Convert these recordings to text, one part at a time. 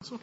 The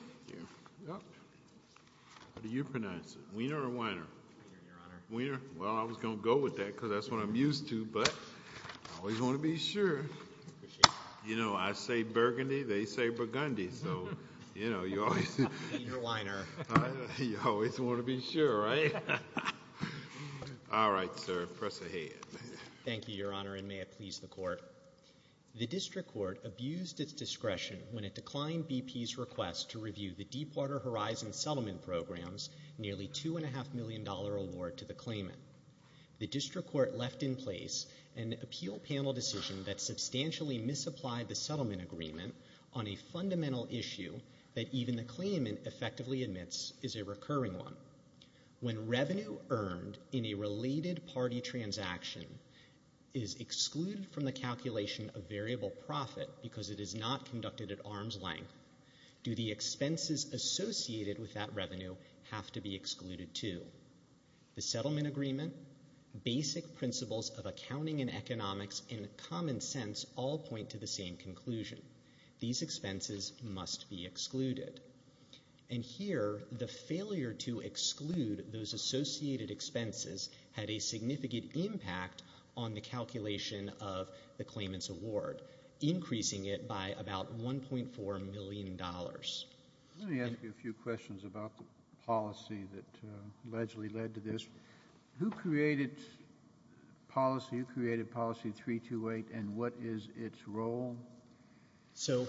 District Court abused its discretion when it declined BP's request to review the Deepwater Horizon Settlement Program's nearly $2.5 million award to the claimant. The District Court left in place an appeal panel decision that substantially misapplied the settlement agreement on a fundamental issue that even the claimant effectively admits is a recurring one. When revenue earned in a related party transaction is excluded from the calculation of variable profit because it is not conducted at arm's length, do the expenses associated with that revenue have to be excluded too? The settlement agreement, basic principles of accounting and economics, and common sense all point to the same conclusion. These expenses must be excluded. And here, the failure to exclude those associated expenses had a significant impact on the calculation decision of the claimant's award, increasing it by about $1.4 million. Let me ask you a few questions about the policy that allegedly led to this. Who created policy, who created policy 328, and what is its role? So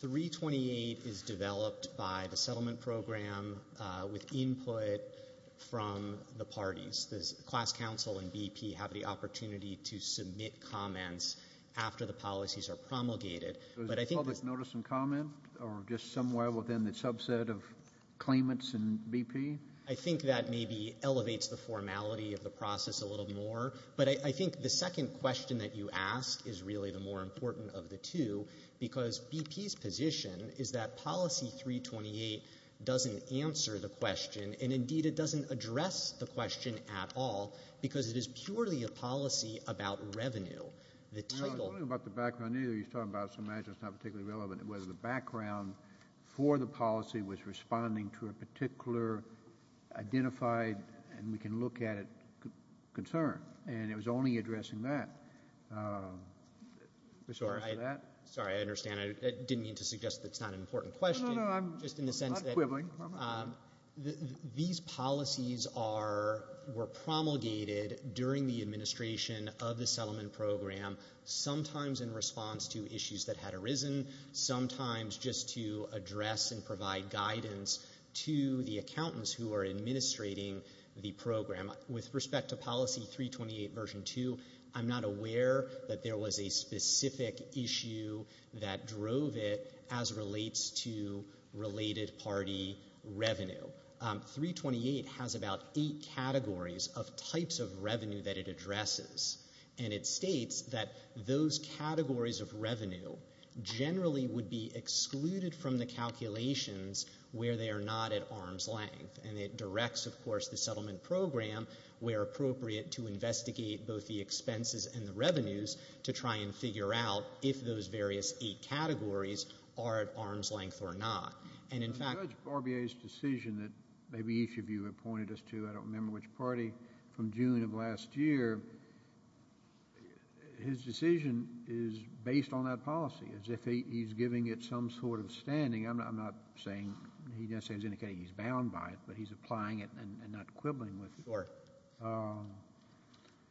328 is developed by the settlement program with input from the parties. Does the class council and BP have the opportunity to submit comments after the policies are promulgated? So is it public notice and comment, or just somewhere within the subset of claimants and BP? I think that maybe elevates the formality of the process a little more. But I think the second question that you ask is really the more important of the two, because BP's position is that policy 328 doesn't answer the question, and indeed it doesn't address the question at all, because it is purely a policy about revenue. The title... I'm not talking about the background, either. You're talking about something that's not particularly relevant, whether the background for the policy was responding to a particular identified, and we can look at it, concern. And it was only addressing that. Sorry. I understand. I didn't mean to suggest that's not an important question. No, no, no. I'm not quibbling. These policies were promulgated during the administration of the settlement program, sometimes in response to issues that had arisen, sometimes just to address and provide guidance to the accountants who are administrating the program. With respect to policy 328 version 2, I'm not aware that there was a specific issue that drove it as relates to related party revenue. 328 has about eight categories of types of revenue that it addresses, and it states that those categories of revenue generally would be excluded from the calculations where they are not at arm's length, and it directs, of course, the settlement program, where appropriate, to investigate both the expenses and the revenues to try and figure out if those various eight categories are at arm's length or not. And in fact... But Judge Barbier's decision that maybe each of you have pointed us to, I don't remember which party, from June of last year, his decision is based on that policy, as if he's giving it some sort of standing. I'm not saying he's indicating he's bound by it, but he's applying it and not quibbling with it. Sure.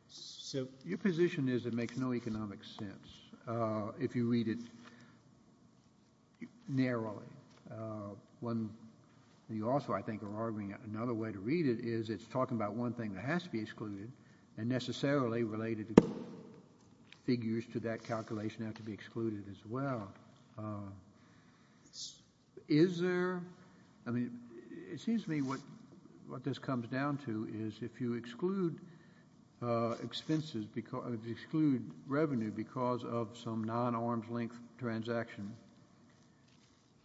So... Your position is it makes no economic sense if you read it narrowly. When you also, I think, are arguing another way to read it is it's talking about one thing that has to be excluded, and necessarily related figures to that calculation have to be excluded as well. Now, is there, I mean, it seems to me what this comes down to is if you exclude expenses, exclude revenue because of some non-arm's length transaction,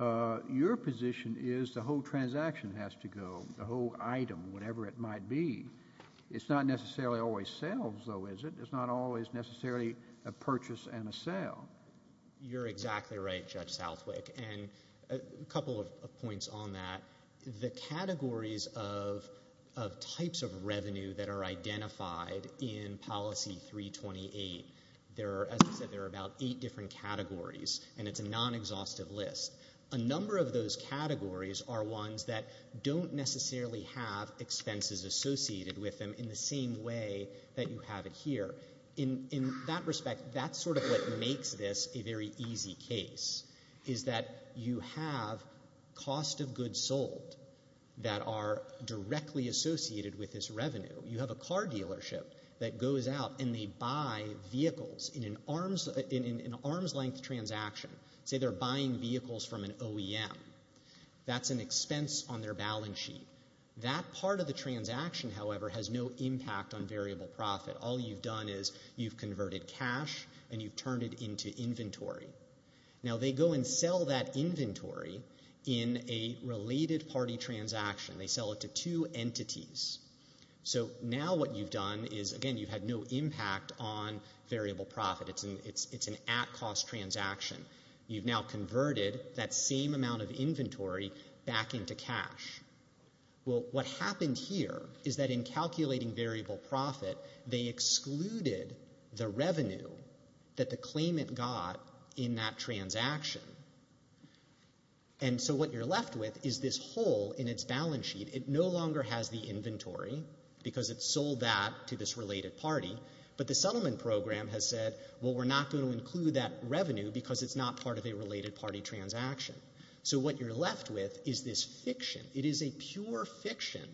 your position is the whole transaction has to go, the whole item, whatever it might be. It's not necessarily always sales, though, is it? It's not always necessarily a purchase and a sale. You're exactly right, Judge Southwick, and a couple of points on that. The categories of types of revenue that are identified in Policy 328, there are, as I said, there are about eight different categories, and it's a non-exhaustive list. A number of those categories are ones that don't necessarily have expenses associated with them in the same way that you have it here. In that respect, that's sort of what makes this a very easy case is that you have cost of goods sold that are directly associated with this revenue. You have a car dealership that goes out and they buy vehicles in an arm's length transaction. Say they're buying vehicles from an OEM. That's an expense on their balance sheet. That part of the transaction, however, has no impact on variable profit. All you've done is you've converted cash and you've turned it into inventory. Now, they go and sell that inventory in a related party transaction. They sell it to two entities. So now what you've done is, again, you've had no impact on variable profit. It's an at-cost transaction. You've now converted that same amount of inventory back into cash. Well, what happened here is that in calculating variable profit, they excluded the revenue that the claimant got in that transaction. And so what you're left with is this hole in its balance sheet. It no longer has the inventory because it sold that to this related party. But the settlement program has said, well, we're not going to include that revenue because it's not part of a related party transaction. So what you're left with is this fiction. It is a pure fiction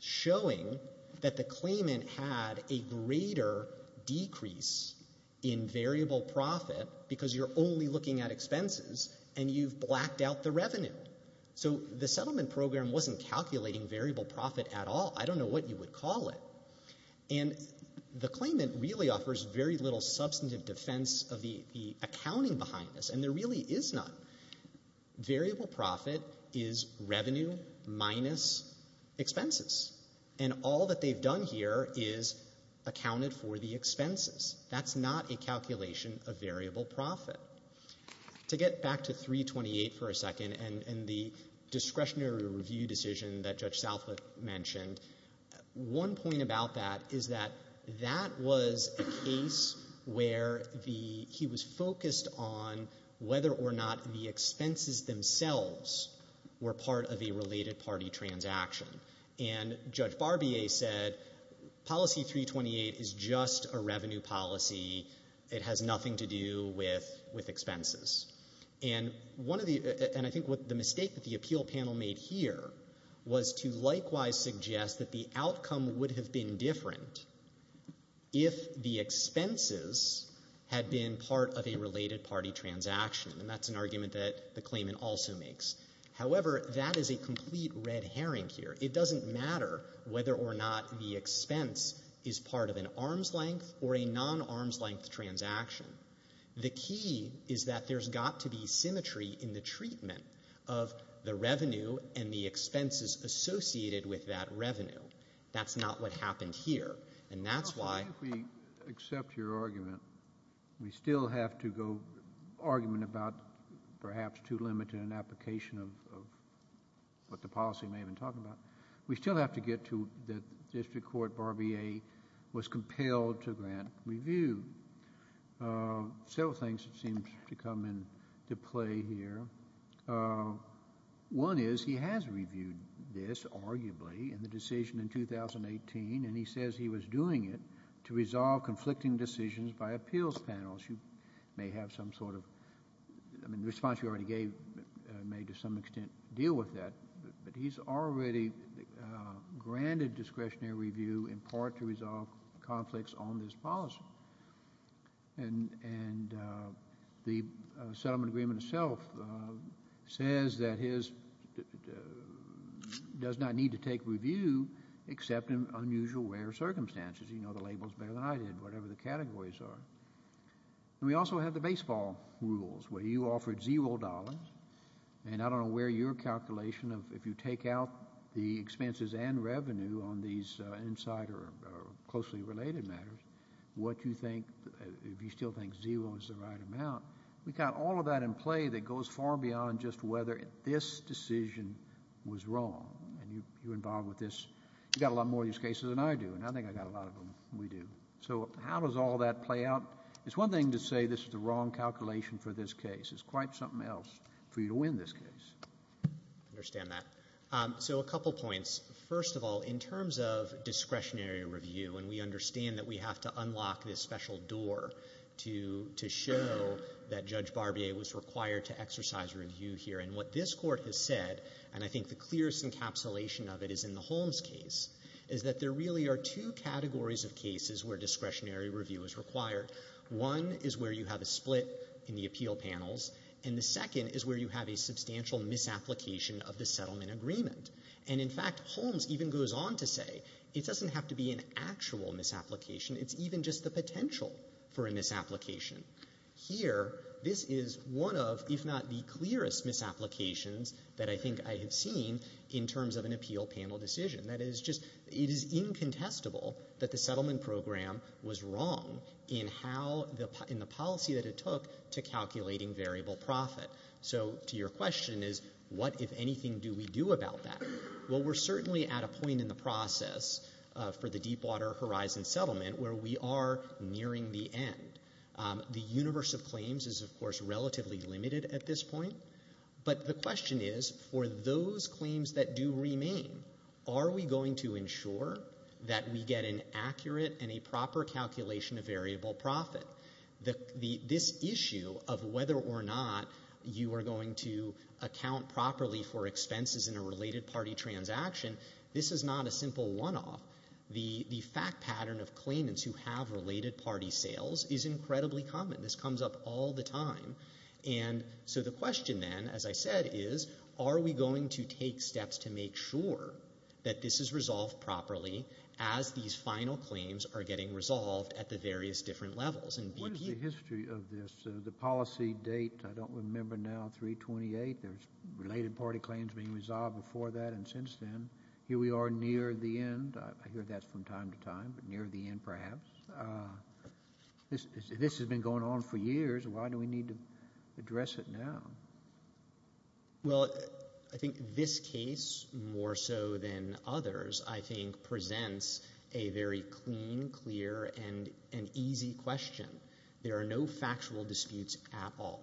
showing that the claimant had a greater decrease in variable profit because you're only looking at expenses and you've blacked out the revenue. So the settlement program wasn't calculating variable profit at all. I don't know what you would call it. And the claimant really offers very little substantive defense of the accounting behind this. And there really is none. Variable profit is revenue minus expenses. And all that they've done here is accounted for the expenses. That's not a calculation of variable profit. To get back to 328 for a second and the discretionary review decision that Judge Salford mentioned, one point about that is that that was a case where he was focused on whether or not the expenses themselves were part of a related party transaction. And Judge Barbier said policy 328 is just a revenue policy. It has nothing to do with expenses. And I think the mistake that the appeal panel made here was to likewise suggest that the outcome would have been different if the expenses had been part of a related party transaction, and that's an argument that the claimant also makes. However, that is a complete red herring here. It doesn't matter whether or not the expense is part of an arms length or a non-arms length transaction. The key is that there's got to be symmetry in the treatment of the revenue and the expenses associated with that revenue. That's not what happened here. And that's why... I think we accept your argument. We still have to go argument about perhaps too limited an application of what the policy may have been talking about. We still have to get to that District Court Barbier was compelled to grant review. Several things seem to come into play here. One is he has reviewed this arguably in the decision in 2018, and he says he was doing it to resolve conflicting decisions by appeals panels. You may have some sort of... I mean, the response you already gave may to some extent deal with that, but he's already granted discretionary review in part to resolve conflicts on this policy. And the settlement agreement itself says that he does not need to take review except in unusual rare circumstances. You know the labels better than I did, whatever the categories are. We also have the baseball rules where you offered zero dollars, and I don't know where your calculation of if you take out the expenses and revenue on these insider or closely related matters, if you still think zero is the right amount, we've got all of that in play that goes far beyond just whether this decision was wrong. And you're involved with this. You've got a lot more of these cases than I do, and I think I got a lot of them than we do. So how does all that play out? It's one thing to say this is the wrong calculation for this case. It's quite something else for you to win this case. I understand that. So a couple points. First of all, in terms of discretionary review, and we understand that we have to unlock this special door to show that Judge Barbier was required to exercise review here, and what this Court has said, and I think the clearest encapsulation of it is in the Holmes case, is that there really are two categories of cases where discretionary review is required. One is where you have a split in the appeal panels, and the second is where you have a substantial misapplication of the settlement agreement. And in fact, Holmes even goes on to say it doesn't have to be an actual misapplication. It's even just the potential for a misapplication. Here, this is one of, if not the clearest misapplications that I think I have seen in terms of an appeal panel decision. That is just, it is incontestable that the settlement program was wrong in the policy that it took to calculating variable profit. So to your question is, what, if anything, do we do about that? Well, we're certainly at a point in the process for the Deepwater Horizon settlement where we are nearing the end. The universe of claims is, of course, relatively limited at this point, but the question is, for those claims that do remain, are we going to ensure that we get an accurate and a proper calculation of variable profit? This issue of whether or not you are going to account properly for expenses in a related party transaction, this is not a simple one-off. The fact pattern of claimants who have related party sales is incredibly common. This comes up all the time. And so the question then, as I said, is, are we going to take steps to make sure that this is resolved properly as these final claims are getting resolved at the various different levels? What is the history of this? The policy date, I don't remember now, 328. There's related party claims being resolved before that and since then. Here we are near the end. I hear that from time to time, but near the end, perhaps. This has been going on for years. Why do we need to address it now? Well, I think this case, more so than others, I think presents a very clean, clear, and easy question. There are no factual disputes at all.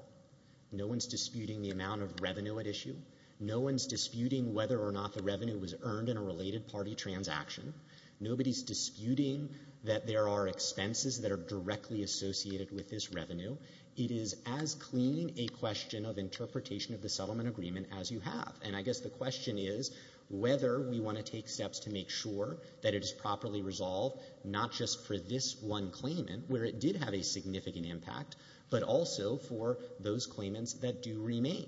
No one's disputing the amount of revenue at issue. No one's disputing whether or not the revenue was earned in a related party transaction. Nobody's disputing that there are expenses that are directly associated with this revenue. It is as clean a question of interpretation of the settlement agreement as you have. I guess the question is whether we want to take steps to make sure that it is properly resolved, not just for this one claimant where it did have a significant impact, but also for those claimants that do remain.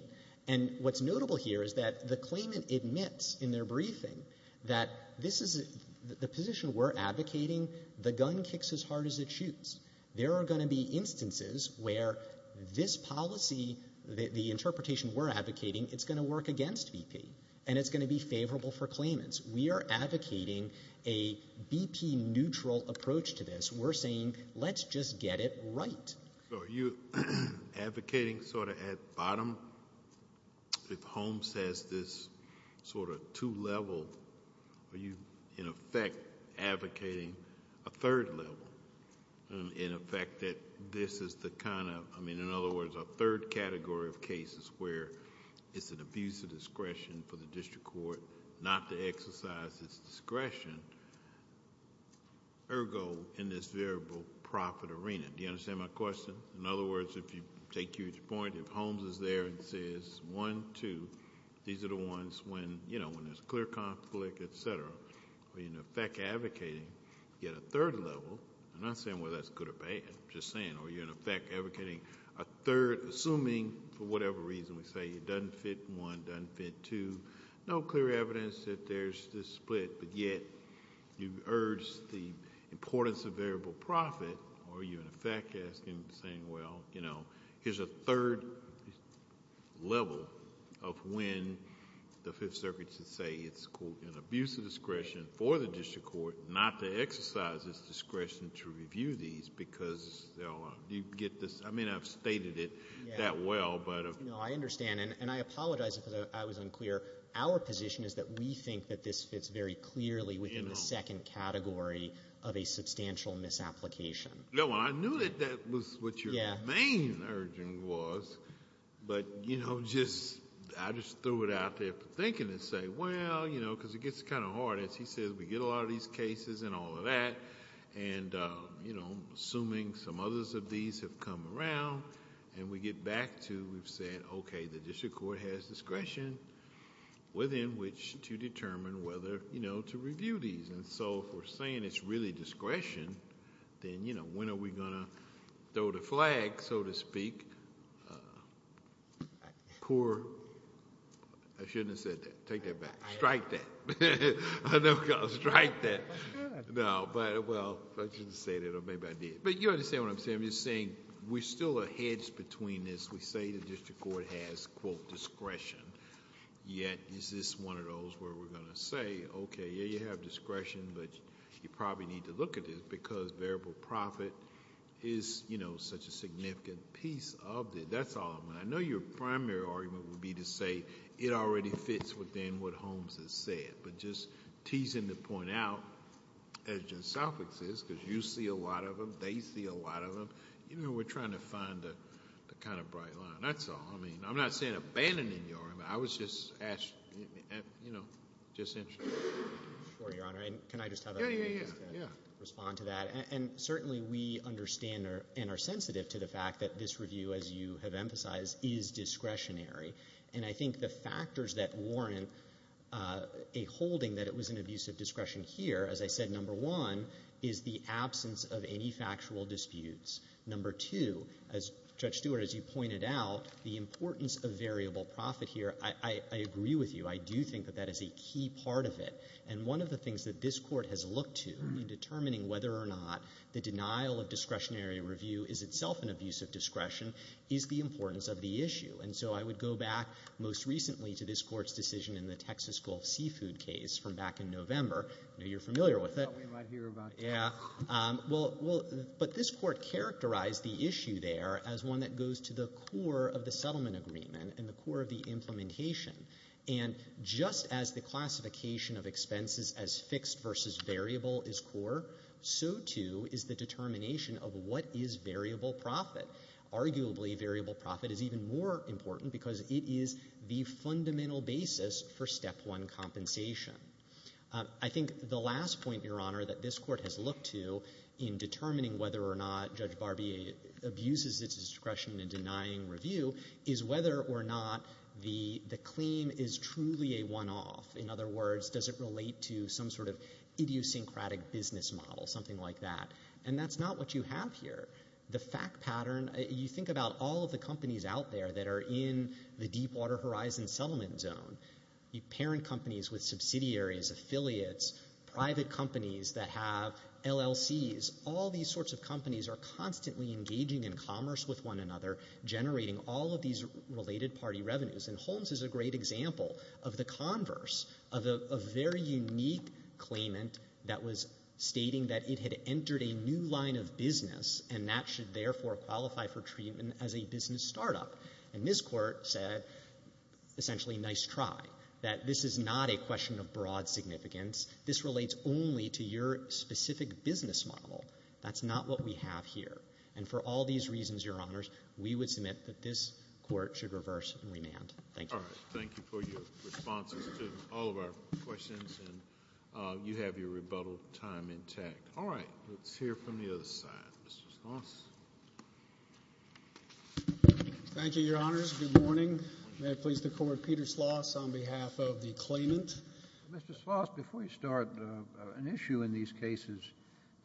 What's notable here is that the claimant admits in their briefing that the position we're advocating, the gun kicks as hard as it shoots. There are going to be instances where this policy, the interpretation we're advocating, it's going to work against BP, and it's going to be favorable for claimants. We are advocating a BP-neutral approach to this. We're saying, let's just get it right. So are you advocating sort of at bottom? If Holmes says this sort of two-level, are you, in effect, advocating a third level? In effect, that this is the kind of, I mean, in other words, a third category of cases where it's an abuse of discretion for the district court not to exercise its discretion. Ergo, in this variable profit arena. Do you understand my question? In other words, if you take your point, if Holmes is there and says, one, two, these are the ones when there's clear conflict, et cetera. Are you, in effect, advocating yet a third level? I'm not saying whether that's good or bad, I'm just saying, are you, in effect, advocating a third, assuming, for whatever reason, we say it doesn't fit one, doesn't fit two, no clear evidence that there's this split, but yet you urge the importance of variable profit. Are you, in effect, asking, saying, well, here's a third level of when the Fifth Circuit should say it's, quote, an abuse of discretion for the district court not to exercise its discretion to review these because they'll get this. I mean, I've stated it that well, but. No, I understand. And I apologize if I was unclear. Our position is that we think that this fits very clearly within the second category of a substantial misapplication. No, I knew that that was what your main urging was. But, you know, just, I just threw it out there for thinking and say, well, you know, because it gets kind of hard as he says, we get a lot of these cases and all of that. And, you know, assuming some others of these have come around and we get back to, we've said, OK, the district court has discretion within which to determine whether, you know, to review these. And so if we're saying it's really discretion, then, you know, when are we going to throw the flag, so to speak, poor. I shouldn't have said that. Take that back. Strike that. I'm never going to strike that. No, but, well, I shouldn't say that. Or maybe I did. But you understand what I'm saying. I'm just saying we're still a hedge between this. We say the district court has, quote, discretion. Yet, is this one of those where we're going to say, OK, yeah, you have discretion. But you probably need to look at it because variable profit is, you know, such a significant piece of it. That's all I want. I know your primary argument would be to say it already fits within what Holmes has said. But just teasing the point out as just suffixes because you see a lot of them. They see a lot of them. You know, we're trying to find the kind of bright line. That's all. I mean, I'm not saying abandoning your argument. I was just asking, you know, just interested. Sure, Your Honor. Can I just have a minute to respond to that? And certainly we understand and are sensitive to the fact that this review, as you have emphasized, is discretionary. And I think the factors that warrant a holding that it was an abuse of discretion here, as I said, number one, is the absence of any factual disputes. Number two, as Judge Stewart, as you pointed out, the importance of variable profit here, I agree with you. I do think that that is a key part of it. And one of the things that this court has looked to in determining whether or not the denial of discretionary review is itself an abuse of discretion is the importance of the issue. And so I would go back most recently to this court's decision in the Texas Gulf Seafood case from back in November. I know you're familiar with it. I thought we might hear about it. Yeah. But this court characterized the issue there as one that goes to the core of the settlement agreement and the core of the implementation. And just as the classification of expenses as fixed versus variable is core, so too is the determination of what is variable profit. Arguably, variable profit is even more important because it is the fundamental basis for step one compensation. I think the last point, Your Honor, that this court has looked to in determining whether or not Judge Barbier abuses its discretion in denying review is whether or not the claim is truly a one-off. In other words, does it relate to some sort of idiosyncratic business model, something like that. And that's not what you have here. The fact pattern, you think about all of the companies out there that are in the Deepwater Horizon settlement zone, parent companies with subsidiaries, affiliates, private companies that have LLCs. All these sorts of companies are constantly engaging in commerce with one another, generating all of these related party revenues. And Holmes is a great example of the converse of a very unique claimant that was stating that it had entered a new line of business and that should therefore qualify for treatment as a business startup. And this Court said, essentially, nice try, that this is not a question of broad significance. This relates only to your specific business model. That's not what we have here. And for all these reasons, Your Honors, we would submit that this Court should reverse and remand. Thank you. Kennedy. Thank you for your responses to all of our questions, and you have your rebuttal time intact. All right. Let's hear from the other side. Mr. Schloss. Thank you, Your Honors. Good morning. May I please declare Peter Schloss on behalf of the claimant. Mr. Schloss, before you start, an issue in these cases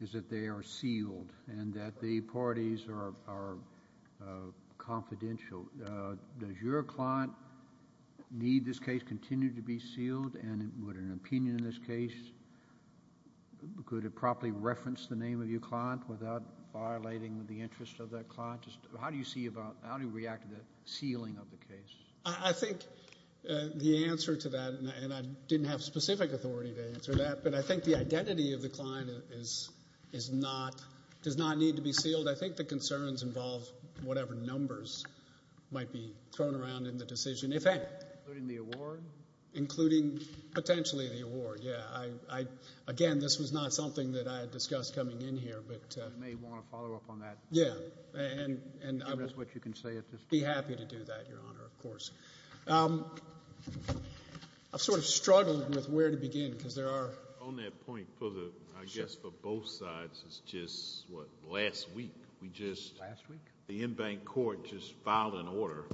is that they are sealed and that the parties are confidential. Does your client need this case continue to be sealed? And would an opinion in this case, could it properly reference the name of your client without violating the interest of that client? How do you see about, how do you react to the sealing of the case? I think the answer to that, and I didn't have specific authority to answer that, but I think the identity of the client does not need to be sealed. I think the concerns involve whatever numbers might be thrown around in the decision, if any. Including the award? Including, potentially, the award. I, again, this was not something that I had discussed coming in here. You may want to follow up on that. Yeah. And give us what you can say at this point. Be happy to do that, Your Honor, of course. I've sort of struggled with where to begin because there are... On that point, I guess for both sides, it's just, what, last week, we just... Last week? The in-bank court just filed an order.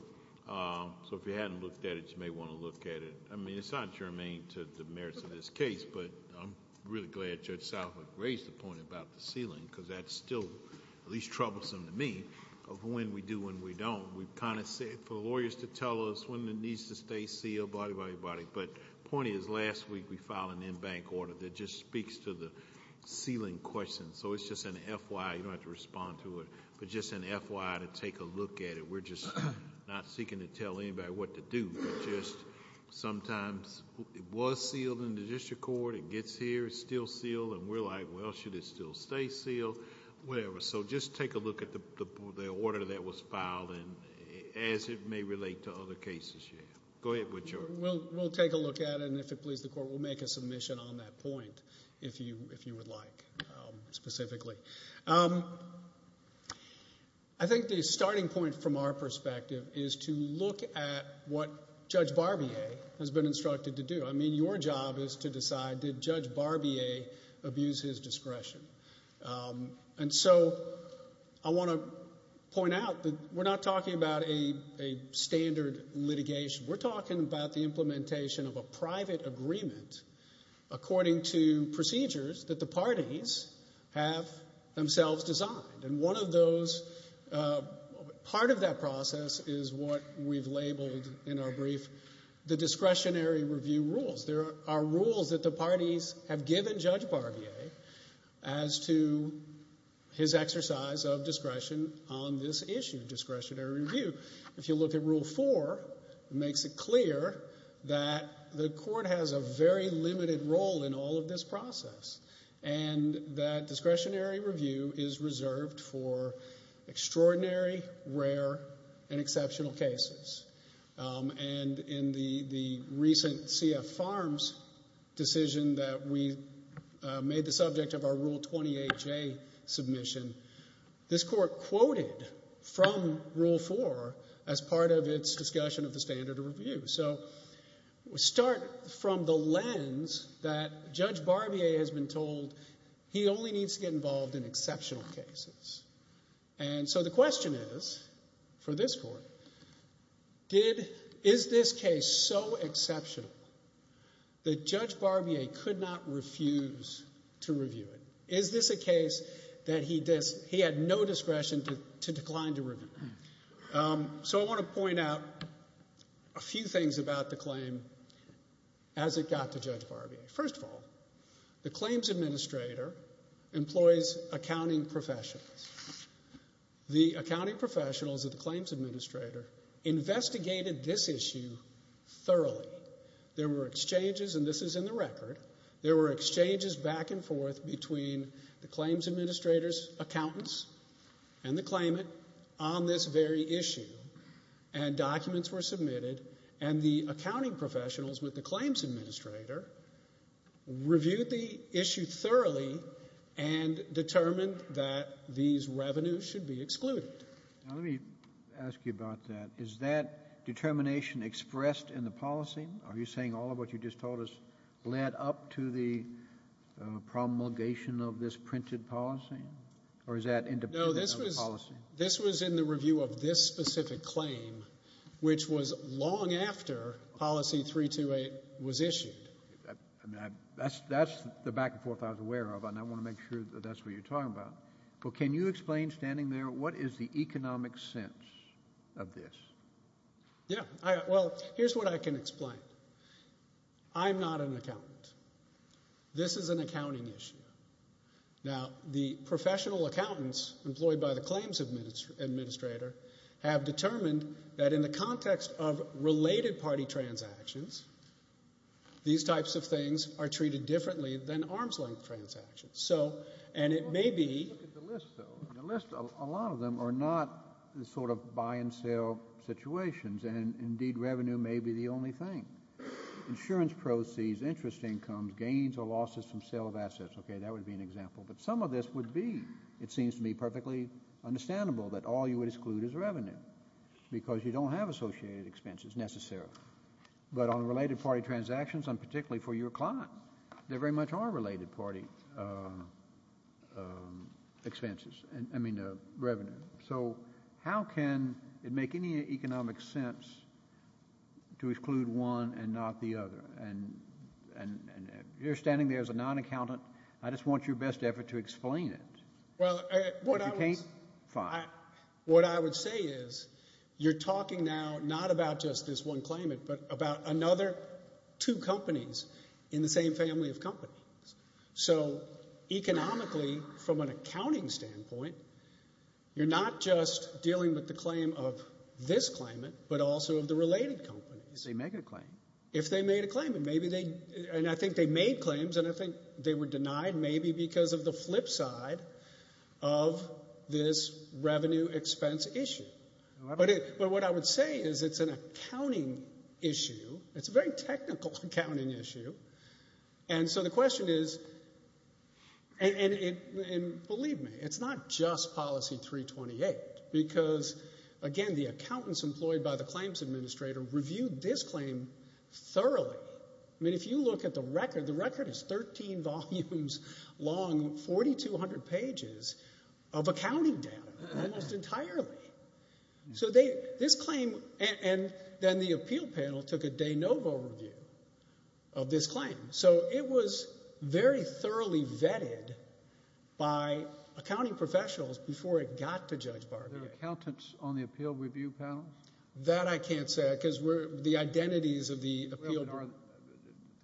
So if you hadn't looked at it, you may want to look at it. I mean, it's not germane to the merits of this case, but I'm really glad Judge Salford raised the point about the sealing because that's still at least troublesome to me of when we do, when we don't. We've kind of said, for lawyers to tell us when it needs to stay sealed, blah, blah, blah. But the point is, last week, we filed an in-bank order that just speaks to the sealing question. So it's just an FYI. You don't have to respond to it, but just an FYI to take a look at it. We're just not seeking to tell anybody what to do. Just sometimes it was sealed in the district court, it gets here, it's still sealed, and we're like, well, should it still stay sealed? Whatever. So just take a look at the order that was filed and as it may relate to other cases you have. Go ahead, Woodchurch. We'll take a look at it, and if it pleases the court, we'll make a submission on that point, if you would like, specifically. I think the starting point from our perspective is to look at what Judge Barbier has been instructed to do. I mean, your job is to decide, did Judge Barbier abuse his discretion? And so I want to point out that we're not talking about a standard litigation. We're talking about the implementation of a private agreement according to procedures that the parties have themselves designed. And one of those, part of that process is what we've labeled in our brief, the discretionary review rules. There are rules that the parties have given Judge Barbier as to his exercise of discretion on this issue, discretionary review. If you look at Rule 4, it makes it clear that the court has a very limited role in all of this process and that discretionary review is reserved for extraordinary, rare, and exceptional cases. And in the recent CF Farms decision that we made the subject of our Rule 28J submission, this court quoted from Rule 4 as part of its discussion of the standard of review. So we start from the lens that Judge Barbier has been told he only needs to get involved in exceptional cases. And so the question is for this court, is this case so exceptional that Judge Barbier could not refuse to review it? Is this a case that he had no discretion to decline to review? So I want to point out a few things about the claim as it got to Judge Barbier. First of all, the claims administrator employs accounting professionals. The accounting professionals of the claims administrator investigated this issue thoroughly. There were exchanges, and this is in the record, there were exchanges back and forth between the claims administrator's accountants and the claimant on this very issue and documents were submitted and the accounting professionals with the claims administrator reviewed the issue thoroughly and determined that these revenues should be excluded. Now, let me ask you about that. Is that determination expressed in the policy? Are you saying all of what you just told us led up to the promulgation of this printed policy? Or is that independent of the policy? No, this was in the review of this specific claim, which was long after policy 328 was issued. That's the back and forth I was aware of, and I want to make sure that that's what you're talking about. But can you explain standing there, what is the economic sense of this? Yeah, well, here's what I can explain. I'm not an accountant. This is an accounting issue. Now, the professional accountants employed by the claims administrator have determined that in the context of related party transactions, these types of things are treated differently than arm's length transactions. So, and it may be... Let's look at the list though. The list, a lot of them are not sort of buy and sell situations and indeed revenue may be the only thing. Insurance proceeds, interest incomes, gains or losses from sale of assets. Okay, that would be an example. But some of this would be, it seems to me perfectly understandable that all you would exclude is revenue because you don't have associated expenses necessarily. But on related party transactions, and particularly for your client, there very much are related party expenses. I mean, revenue. So how can it make any economic sense to exclude one and not the other? And you're standing there as a non-accountant. I just want your best effort to explain it. Well, what I would say is, you're talking now not about just this one claimant, but about another two companies in the same family of companies. So economically, from an accounting standpoint, you're not just dealing with the claim of this claimant, but also of the related companies. If they make a claim. If they made a claim and maybe they... And I think they made claims and I think they were denied maybe because of the flip side of this revenue expense issue. But what I would say is it's an accounting issue. It's a very technical accounting issue. And so the question is... And believe me, it's not just policy 328 because, again, the accountants employed by the claims administrator reviewed this claim thoroughly. I mean, if you look at the record, the record is 13 volumes long, 4,200 pages of accounting data, almost entirely. So this claim... And then the appeal panel took a de novo review of this claim. So it was very thoroughly vetted by accounting professionals before it got to Judge Barclay. The accountants on the appeal review panel? That I can't say because the identities of the appeal... Well, in our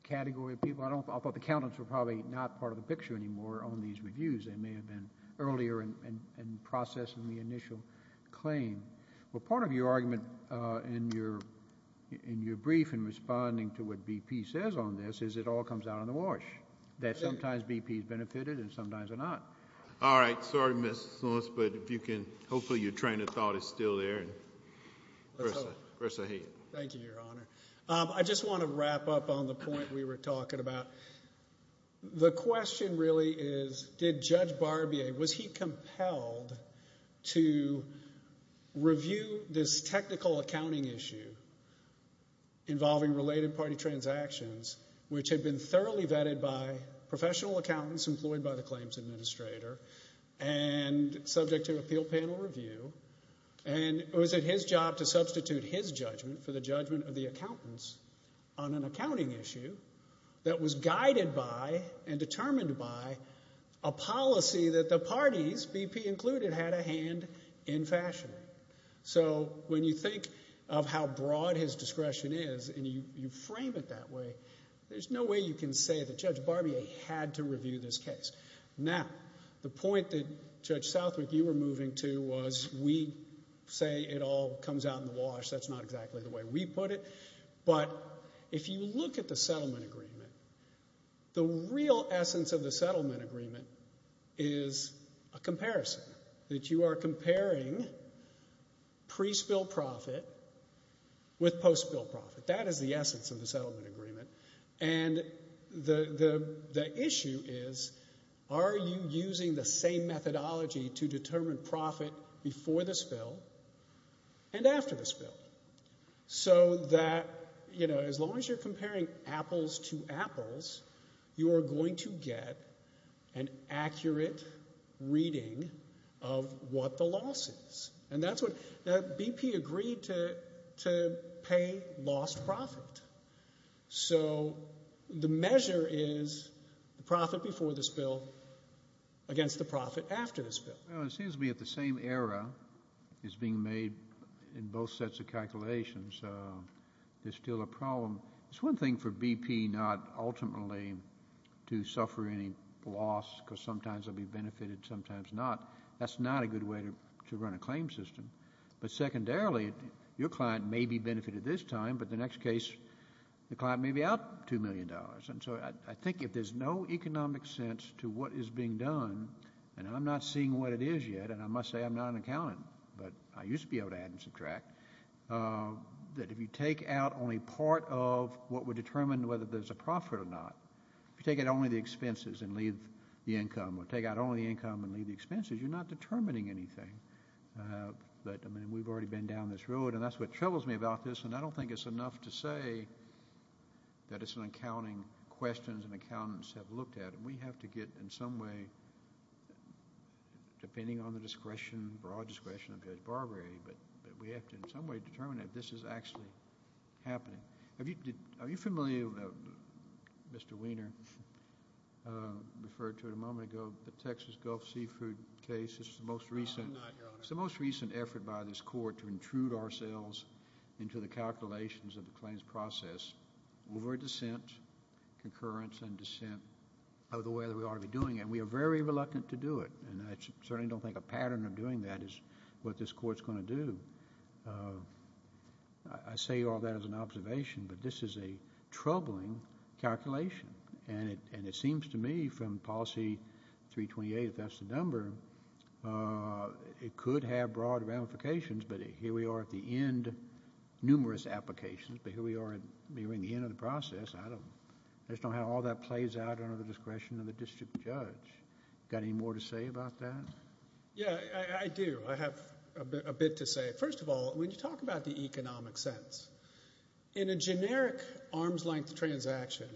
category of people, I thought the accountants were probably not part of the picture anymore, on these reviews. They may have been earlier in processing the initial claim. Well, part of your argument in your brief in responding to what BP says on this is it all comes out on the wash, that sometimes BP's benefited and sometimes they're not. All right. Sorry, Mr. Solis. But if you can... Hopefully your train of thought is still there. And versa. Versa here. Thank you, Your Honor. I just want to wrap up on the point we were talking about. The question really is, did Judge Barbier... Was he compelled to review this technical accounting issue involving related party transactions which had been thoroughly vetted by professional accountants employed by the claims administrator and subject to appeal panel review? And was it his job to substitute his judgment for the judgment of the accountants on an accounting issue that was guided by and determined by a policy that the parties, BP included, had a hand in fashioning? So when you think of how broad his discretion is and you frame it that way, there's no way you can say that Judge Barbier had to review this case. Now, the point that, Judge Southwick, you were moving to was we say it all comes out in the wash. That's not exactly the way we put it. But if you look at the settlement agreement, the real essence of the settlement agreement is a comparison, that you are comparing pre-spill profit with post-spill profit. That is the essence of the settlement agreement. And the issue is, are you using the same methodology to determine profit before the spill and after the spill so that, you know, as long as you're comparing apples to apples, you are going to get an accurate reading of what the loss is. And that's what BP agreed to pay lost profit. So the measure is the profit before the spill against the profit after the spill. Well, it seems to me that the same error is being made in both sets of calculations. There's still a problem. It's one thing for BP not ultimately to suffer any loss because sometimes they'll be benefited, sometimes not. That's not a good way to run a claim system. But secondarily, your client may be benefited this time, but the next case, the client may be out two million dollars. And so I think if there's no economic sense to what is being done and I'm not seeing what it is yet, and I must say I'm not an accountant, but I used to be able to add and subtract, that if you take out only part of what would determine whether there's a profit or not, if you take out only the expenses and leave the income or take out only the income and leave the expenses, you're not determining anything. But I mean, we've already been down this road and that's what troubles me about this. And I don't think it's enough to say that it's an accounting questions and accountants have looked at and we have to get in some way, depending on the discretion, broad discretion of Judge Barbary, but we have to in some way determine if this is actually happening. Are you familiar, Mr. Weiner referred to it a moment ago, the Texas Gulf Seafood case, this is the most recent effort by this court to intrude ourselves into the calculations of the claims process over dissent, concurrence and dissent of the way that we are doing it. We are very reluctant to do it. And I certainly don't think a pattern of doing that is what this court's going to do. I say all that as an observation, but this is a troubling calculation. And it seems to me from policy 328, if that's the number, it could have broad ramifications, but here we are at the end, numerous applications, but here we are at the end of the process. I just don't know how all that plays out under the discretion of the district judge. Got any more to say about that? Yeah, I do. I have a bit to say. First of all, when you talk about the economic sense, in a generic arm's length transaction,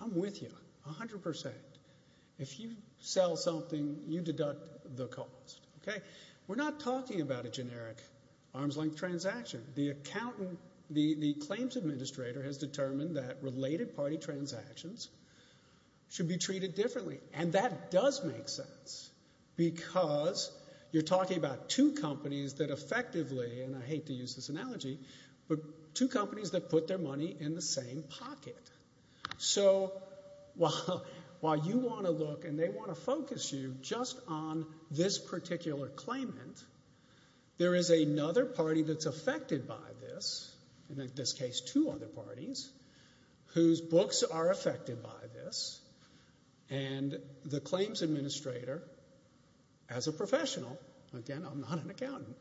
I'm with you 100%. If you sell something, you deduct the cost, okay? We're not talking about a generic arm's length transaction. The accountant, the claims administrator has determined that related party transactions should be treated differently. And that does make sense because you're talking about two companies that effectively, and I hate to use this analogy, but two companies that put their money in the same pocket. So while you want to look and they want to focus you just on this particular claimant, there is another party that's affected by this. And in this case, two other parties whose books are affected by this. And the claims administrator, as a professional, again, I'm not an accountant,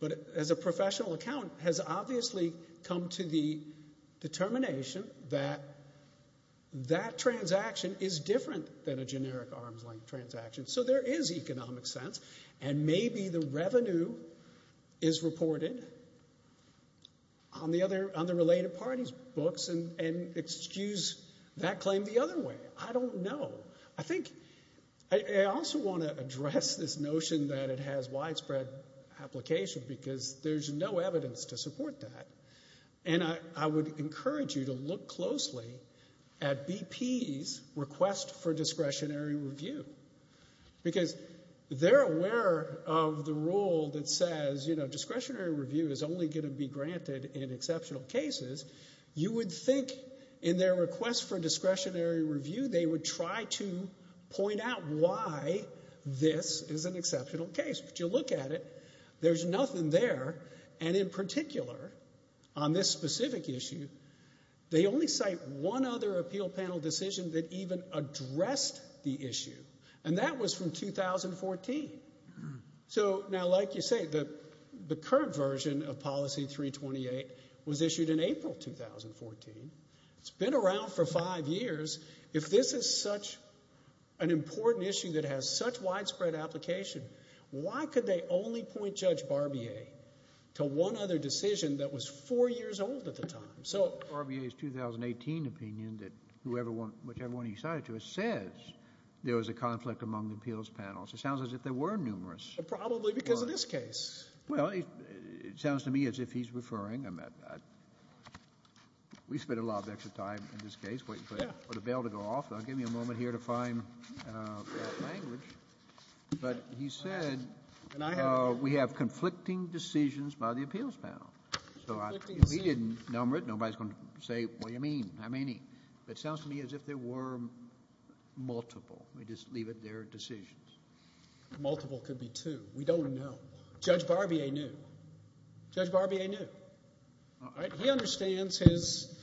but as a professional accountant has obviously come to the determination that that transaction is different than a generic arm's length transaction. So there is economic sense and maybe the revenue is reported on the related parties books and excuse that claim the other way. I don't know. I think I also want to address this notion that it has widespread application because there's no evidence to support that. And I would encourage you to look closely at BP's request for discretionary review because they're aware of the rule that says, you know, discretionary review is only going to be granted in exceptional cases. You would think in their request for discretionary review, they would try to point out why this is an exceptional case. But you look at it, there's nothing there. And in particular, on this specific issue, they only cite one other appeal panel decision that even addressed the issue. And that was from 2014. So now, like you say, the current version of policy 328 was issued in April, 2014. It's been around for five years. If this is such an important issue that has such widespread application, why could they only point Judge Barbier to one other decision that was four years old at the time? So Barbier's 2018 opinion that whichever one he cited to it says there was a conflict among the appeals panels. It sounds as if there were numerous. Probably because of this case. Well, it sounds to me as if he's referring. I mean, we spent a lot of extra time in this case waiting for the bell to go off. Now, give me a moment here to find that language. But he said, we have conflicting decisions by the appeals panel. So if he didn't number it, nobody's going to say, what do you mean? I mean, it sounds to me as if there were multiple. We just leave it there, decisions. A multiple could be two. We don't know. Judge Barbier knew. Judge Barbier knew. He understands his.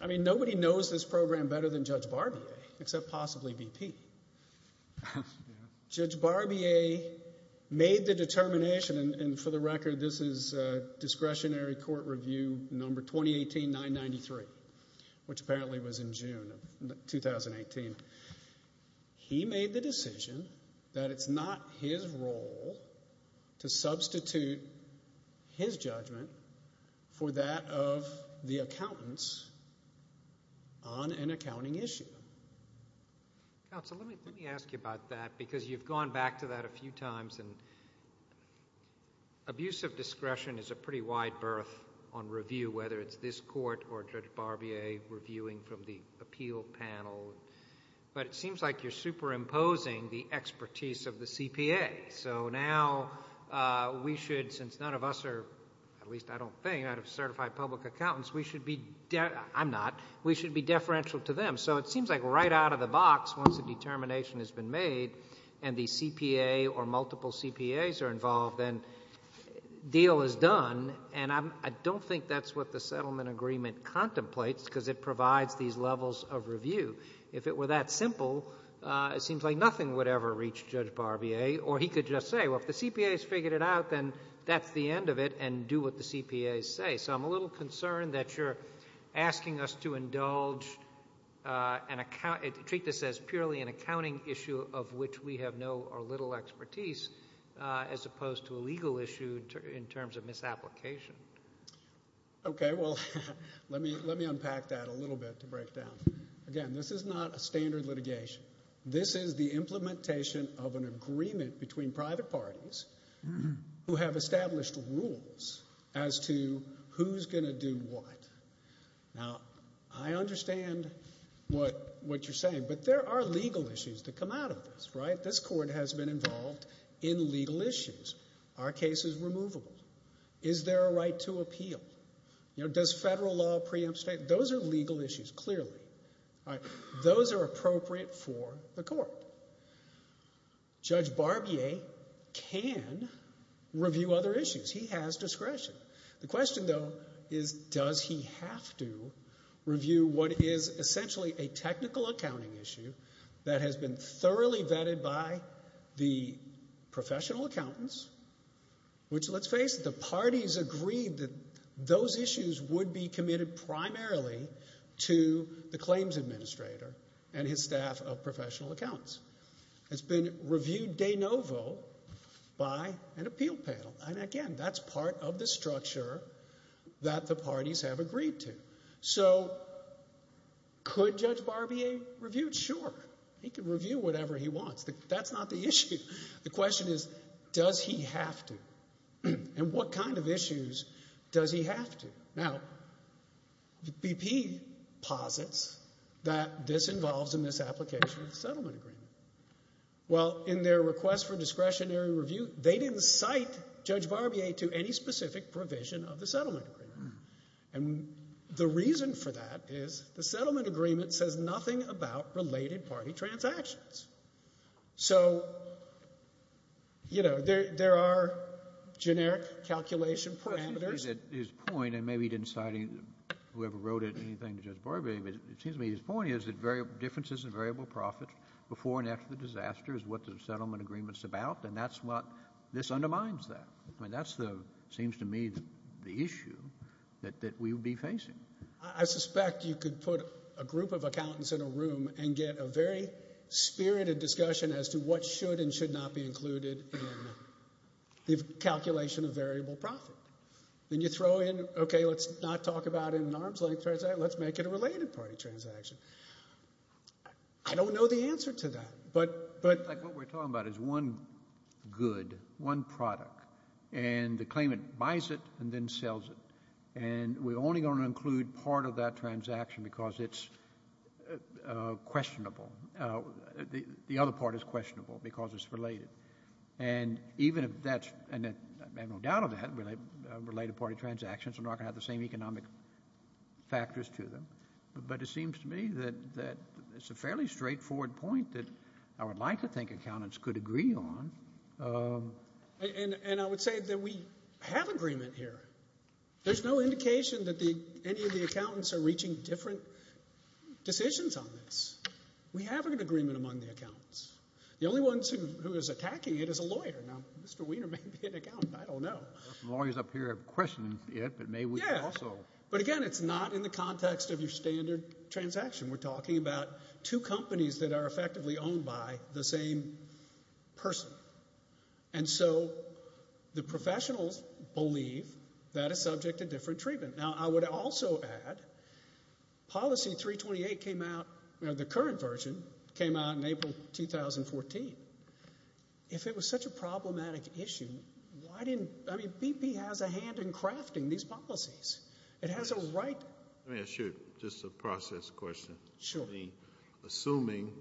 I mean, nobody knows this program better than Judge Barbier, except possibly BP. Judge Barbier made the determination, and for the record, this is discretionary court review number 2018-993, which apparently was in June of 2018. He made the decision that it's not his role to substitute his judgment for that of the accountants on an accounting issue. Counsel, let me ask you about that, because you've gone back to that a few times, and abusive discretion is a pretty wide berth on review, whether it's this court or Judge Barbier reviewing from the appeal panel. But it seems like you're superimposing the expertise of the CPA. So now we should, since none of us are, at least I don't think, out of certified public accountants, we should be, I'm not, we should be deferential to them. So it seems like right out of the box, once the determination has been made, and the CPA or multiple CPAs are involved, then deal is done. And I don't think that's what the settlement agreement contemplates, because it provides these levels of review. If it were that simple, it seems like nothing would ever reach Judge Barbier, or he could just say, well, if the CPAs figured it out, then that's the end of it. And do what the CPAs say. So I'm a little concerned that you're asking us to indulge an account, treat this as purely an accounting issue of which we have no or little expertise, as opposed to a legal issue in terms of misapplication. Okay, well, let me unpack that a little bit to break down. Again, this is not a standard litigation. This is the implementation of an agreement between private parties who have established rules as to who's going to do what. Now, I understand what you're saying, but there are legal issues that come out of this, right? This court has been involved in legal issues. Are cases removable? Is there a right to appeal? Does federal law preempt state? Those are legal issues, clearly. Those are appropriate for the court. Judge Barbier can review other issues. He has discretion. The question, though, is does he have to review what is essentially a technical accounting issue that has been thoroughly vetted by the professional accountants, which, let's face it, the parties agreed that those issues would be committed primarily to the claims administrator and his staff of professional accountants. It's been reviewed de novo by an appeal panel. And again, that's part of the structure that the parties have agreed to. So could Judge Barbier review? Sure, he can review whatever he wants. That's not the issue. The question is, does he have to? And what kind of issues does he have to? Now, BP posits that this involves a misapplication of the settlement agreement. Well, in their request for discretionary review, they didn't cite Judge Barbier to any specific provision of the settlement agreement. And the reason for that is the settlement agreement says nothing about related party transactions. So, you know, there are generic calculation parameters. But his point, and maybe he didn't cite whoever wrote it, anything to Judge Barbier, but it seems to me his point is that differences in variable profits before and after the disaster is what the settlement agreement's about. And that's what, this undermines that. I mean, that's the, seems to me the issue that we would be facing. I suspect you could put a group of accountants in a room and get a very spirited discussion as to what should and should not be included in the calculation of variable profit. Then you throw in, OK, let's not talk about it in an arm's length transaction, let's make it a related party transaction. I don't know the answer to that. But, like, what we're talking about is one good, one product, and the claimant buys it and then sells it. And we're only going to include part of that transaction because it's questionable. The other part is questionable because it's related. And even if that's, and I have no doubt of that, related party transactions are not going to have the same economic factors to them. But it seems to me that it's a fairly straightforward point that I would like to think accountants could agree on. And I would say that we have agreement here. There's no indication that any of the accountants are reaching different decisions on this. We have an agreement among the accountants. The only ones who is attacking it is a lawyer. Now, Mr. Wiener may be an accountant, I don't know. Lawyers up here have questioned it, but may we also. But again, it's not in the context of your standard transaction. We're talking about two companies that are effectively owned by the same person. And so the professionals believe that is subject to different treatment. Now, I would also add, policy 328 came out, the current version came out in April 2014. If it was such a problematic issue, why didn't, I mean, BP has a hand in crafting these policies. It has a right. Let me ask you just a process question. Sure. Assuming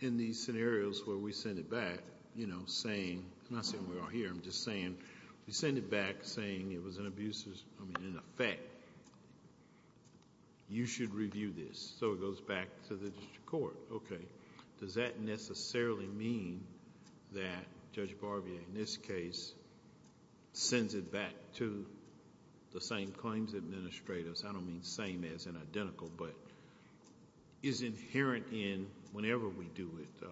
in these scenarios where we send it back, you know, saying, I'm not saying we're all here, I'm just saying, we send it back saying it was an abusive, I mean, in effect, you should review this. So it goes back to the district court. Okay. Does that necessarily mean that Judge Barbier, in this case, sends it back to the same claims administrators? I don't mean same as an identical, but is inherent in, whenever we do it, the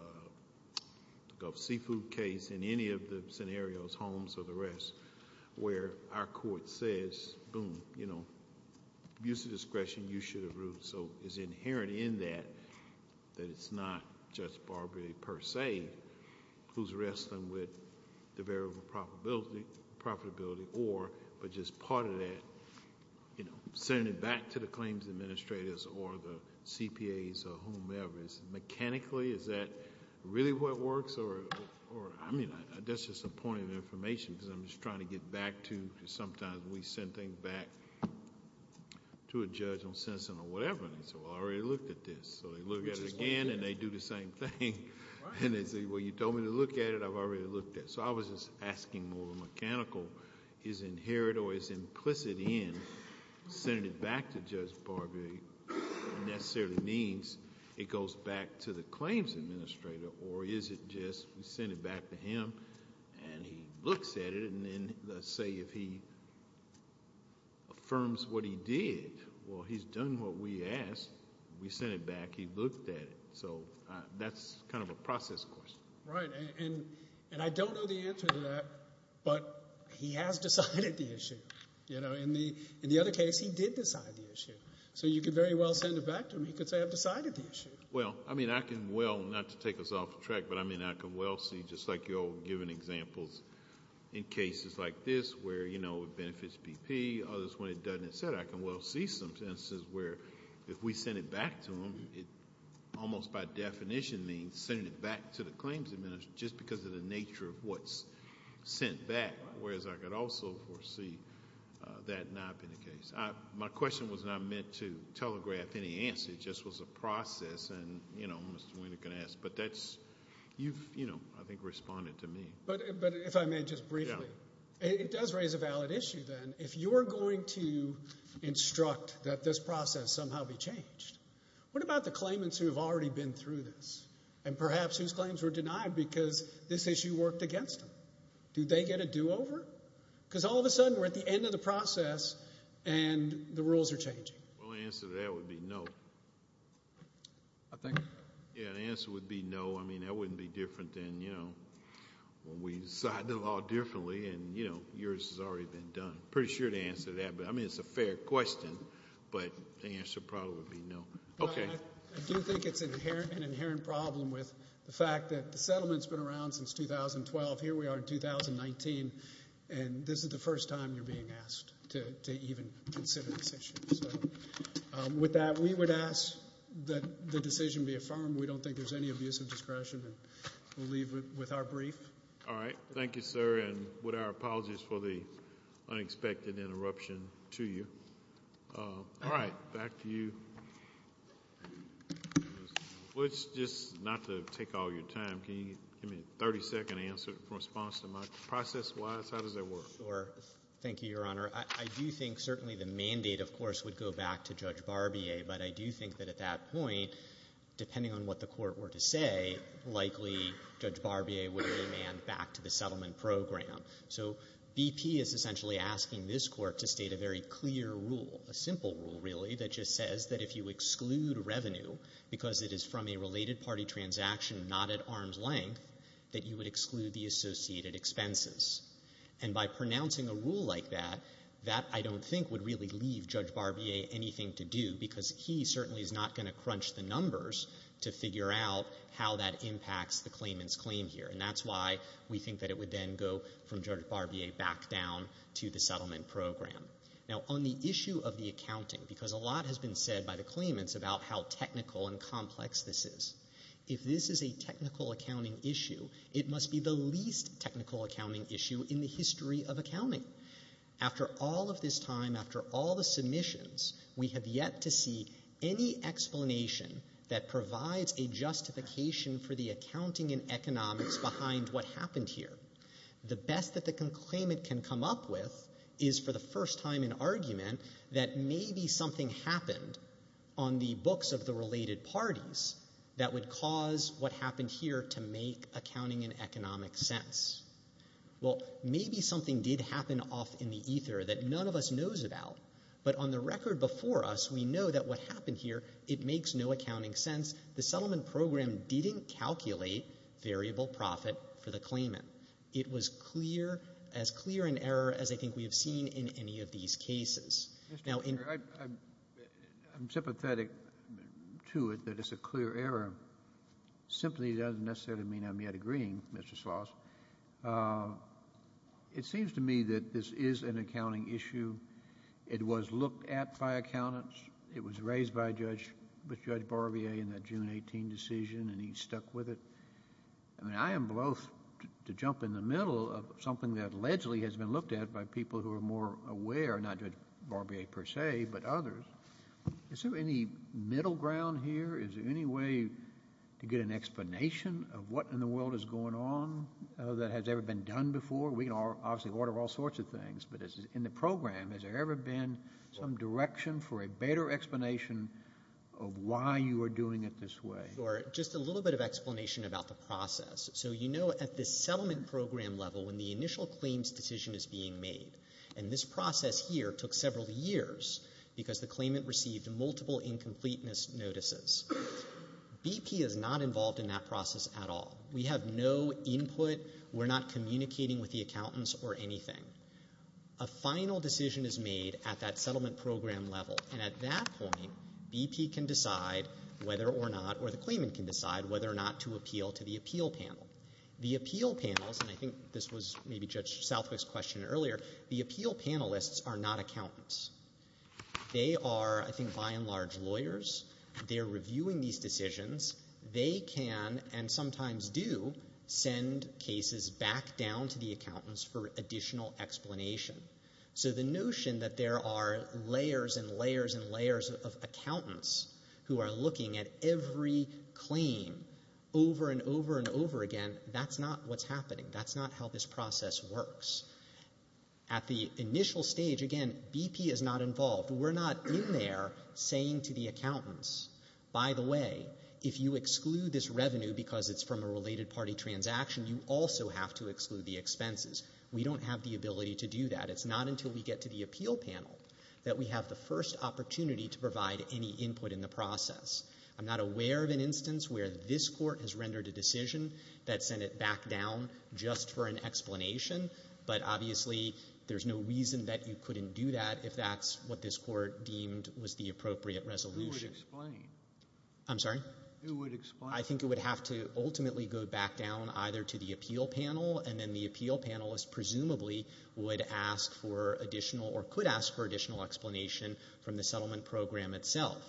Gulf Seafood case in any of the scenarios, Holmes or the rest, where our court says, boom, you know, use of discretion, you should have ruled. So it's inherent in that, that it's not Judge Barbier per se who's wrestling with the variable profitability or, but just part of that, you know, send it back to the claims administrators or the CPAs or whomever. Mechanically, is that really what works? Or, I mean, that's just a point of information because I'm just trying to get back to, sometimes we send things back to a judge on sentencing or whatever. And they say, well, I already looked at this. So they look at it again and they do the same thing. And they say, well, you told me to look at it, I've already looked at it. So I was just asking more mechanical, is inherent or is implicit in sending it back to Judge Barbier necessarily means it goes back to the claims administrator or is it just, we send it back to him and he looks at it and then let's say, if he affirms what he did, well, he's done what we asked. We sent it back, he looked at it. So that's kind of a process question. Right. And I don't know the answer to that, but he has decided the issue, you know, in the other case, he did decide the issue. So you could very well send it back to him. He could say, I've decided the issue. Well, I mean, I can, well, not to take us off track, but I mean, I can well see just like you're giving examples in cases like this where, you know, it benefits BP, others when it doesn't, et cetera. I can well see some senses where if we send it back to him, it almost by definition means sending it back to the claims administrator just because of the nature of what's sent back. Whereas I could also foresee that not been the case. My question was not meant to telegraph any answer. It just was a process. And, you know, Mr. Weiner can ask, but that's, you've, you know, I think responded to me. But if I may just briefly, it does raise a valid issue then. If you're going to instruct that this process somehow be changed, what about the claimants who have already been through this? And perhaps whose claims were denied because this issue worked against them? Do they get a do-over? Because all of a sudden, we're at the end of the process and the rules are changing. Well, the answer to that would be no. I think. Yeah, the answer would be no. I mean, that wouldn't be different than, you know, when we decided the law differently and, you know, yours has already been done. Pretty sure the answer to that, but I mean, it's a fair question, but the answer probably would be no. Okay. I do think it's an inherent problem with the fact that the settlement's been around since 2012. Here we are in 2019 and this is the first time you're being asked to even consider this issue. So with that, we would ask that the decision be affirmed. We don't think there's any abusive discretion and we'll leave with our brief. All right. Thank you, sir. And with our apologies for the unexpected interruption to you. All right. Back to you. Let's just not to take all your time. Can you give me a 30 second answer? Process-wise, how does that work? Sure. Thank you, Your Honor. I do think certainly the mandate, of course, would go back to Judge Barbier, but I do think that at that point, depending on what the court were to say, likely Judge Barbier would demand back to the settlement program. So BP is essentially asking this court to state a very clear rule, a simple rule, really, that just says that if you exclude revenue because it is from a related party transaction, not at arm's length, that you would exclude the associated expenses. And by pronouncing a rule like that, that I don't think would really leave Judge Barbier anything to do because he certainly is not going to crunch the numbers to figure out how that impacts the claimant's claim here. And that's why we think that it would then go from Judge Barbier back down to the settlement program. Now, on the issue of the accounting, because a lot has been said by the claimants about how technical and complex this is. If this is a technical accounting issue, it must be the least technical accounting issue in the history of accounting. After all of this time, after all the submissions, we have yet to see any explanation that provides a justification for the accounting and economics behind what happened here. The best that the claimant can come up with is for the first time an argument that maybe something happened on the books of the related parties that would cause what happened here to make accounting and economics sense. Well, maybe something did happen off in the ether that none of us knows about. But on the record before us, we know that what happened here, it makes no accounting sense. The settlement program didn't calculate variable profit for the claimant. It was clear, as clear an error as I think we have seen in any of these cases. I'm sympathetic to it, that it's a clear error. Simply doesn't necessarily mean I'm yet agreeing, Mr. Schloss. It seems to me that this is an accounting issue. It was looked at by accountants. It was raised by Judge Barbier in that June 18 decision, and he stuck with it. I mean, I am both to jump in the middle of something that allegedly has been looked at by people who are more aware, not Judge Barbier per se, but others. Is there any middle ground here? Is there any way to get an explanation of what in the world is going on that has ever been done before? We can obviously order all sorts of things, but in the program, has there ever been some direction for a better explanation of why you are doing it this way? Or just a little bit of explanation about the process. So you know at the settlement program level, when the initial claims decision is being made, and this process here took several years because the claimant received multiple incompleteness notices, BP is not involved in that process at all. We have no input. We're not communicating with the accountants or anything. A final decision is made at that settlement program level, and at that point, BP can decide whether or not, or the claimant can decide whether or not to appeal to the appeal panel. The appeal panels, and I think this was maybe Judge Southwick's question earlier, the appeal panelists are not accountants. They are, I think, by and large lawyers. They're reviewing these decisions. They can, and sometimes do, send cases back down to the accountants for additional explanation. So the notion that there are layers and layers and layers of accountants who are looking at every claim over and over and over again, that's not what's happening. That's not how this process works. At the initial stage, again, BP is not involved. We're not in there saying to the accountants, by the way, if you exclude this revenue because it's from a related party transaction, you also have to exclude the expenses. We don't have the ability to do that. It's not until we get to the appeal panel that we have the first opportunity to provide any input in the process. I'm not aware of an instance where this court has rendered a decision that sent it back down just for an explanation, but obviously there's no reason that you couldn't do that if that's what this court deemed was the appropriate resolution. Who would explain? I'm sorry? Who would explain? I think it would have to ultimately go back down either to the appeal panel, and then the appeal panelist, presumably, would ask for additional or could ask for additional explanation from the settlement program itself.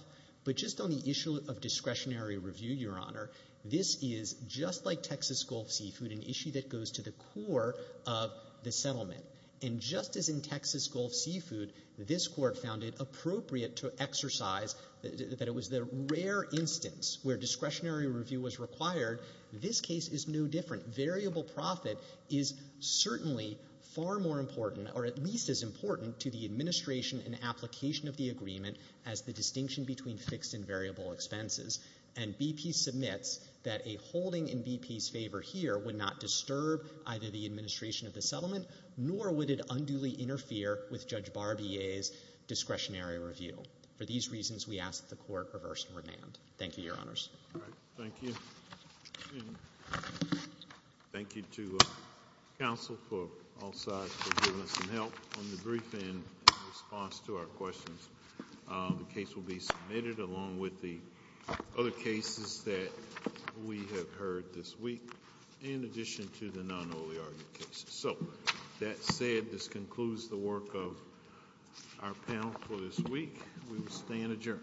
of discretionary review, Your Honor, this is just like Texas Gulf Seafood, an issue that goes to the core of the settlement. And just as in Texas Gulf Seafood, this court found it appropriate to exercise that it was the rare instance where discretionary review was required. This case is no different. Variable profit is certainly far more important, or at least as important, to the administration and application of the agreement as the distinction between fixed and variable expenses. And BP submits that a holding in BP's favor here would not disturb either the administration of the settlement, nor would it unduly interfere with Judge Barbier's discretionary review. For these reasons, we ask that the court reverse and remand. Thank you, Your Honors. All right, thank you. Thank you to counsel for all sides for giving us some help on the brief and response to our questions. The case will be submitted along with the other cases that we have heard this week. In addition to the non-early argument cases. So that said, this concludes the work of our panel for this week. We will stand adjourned.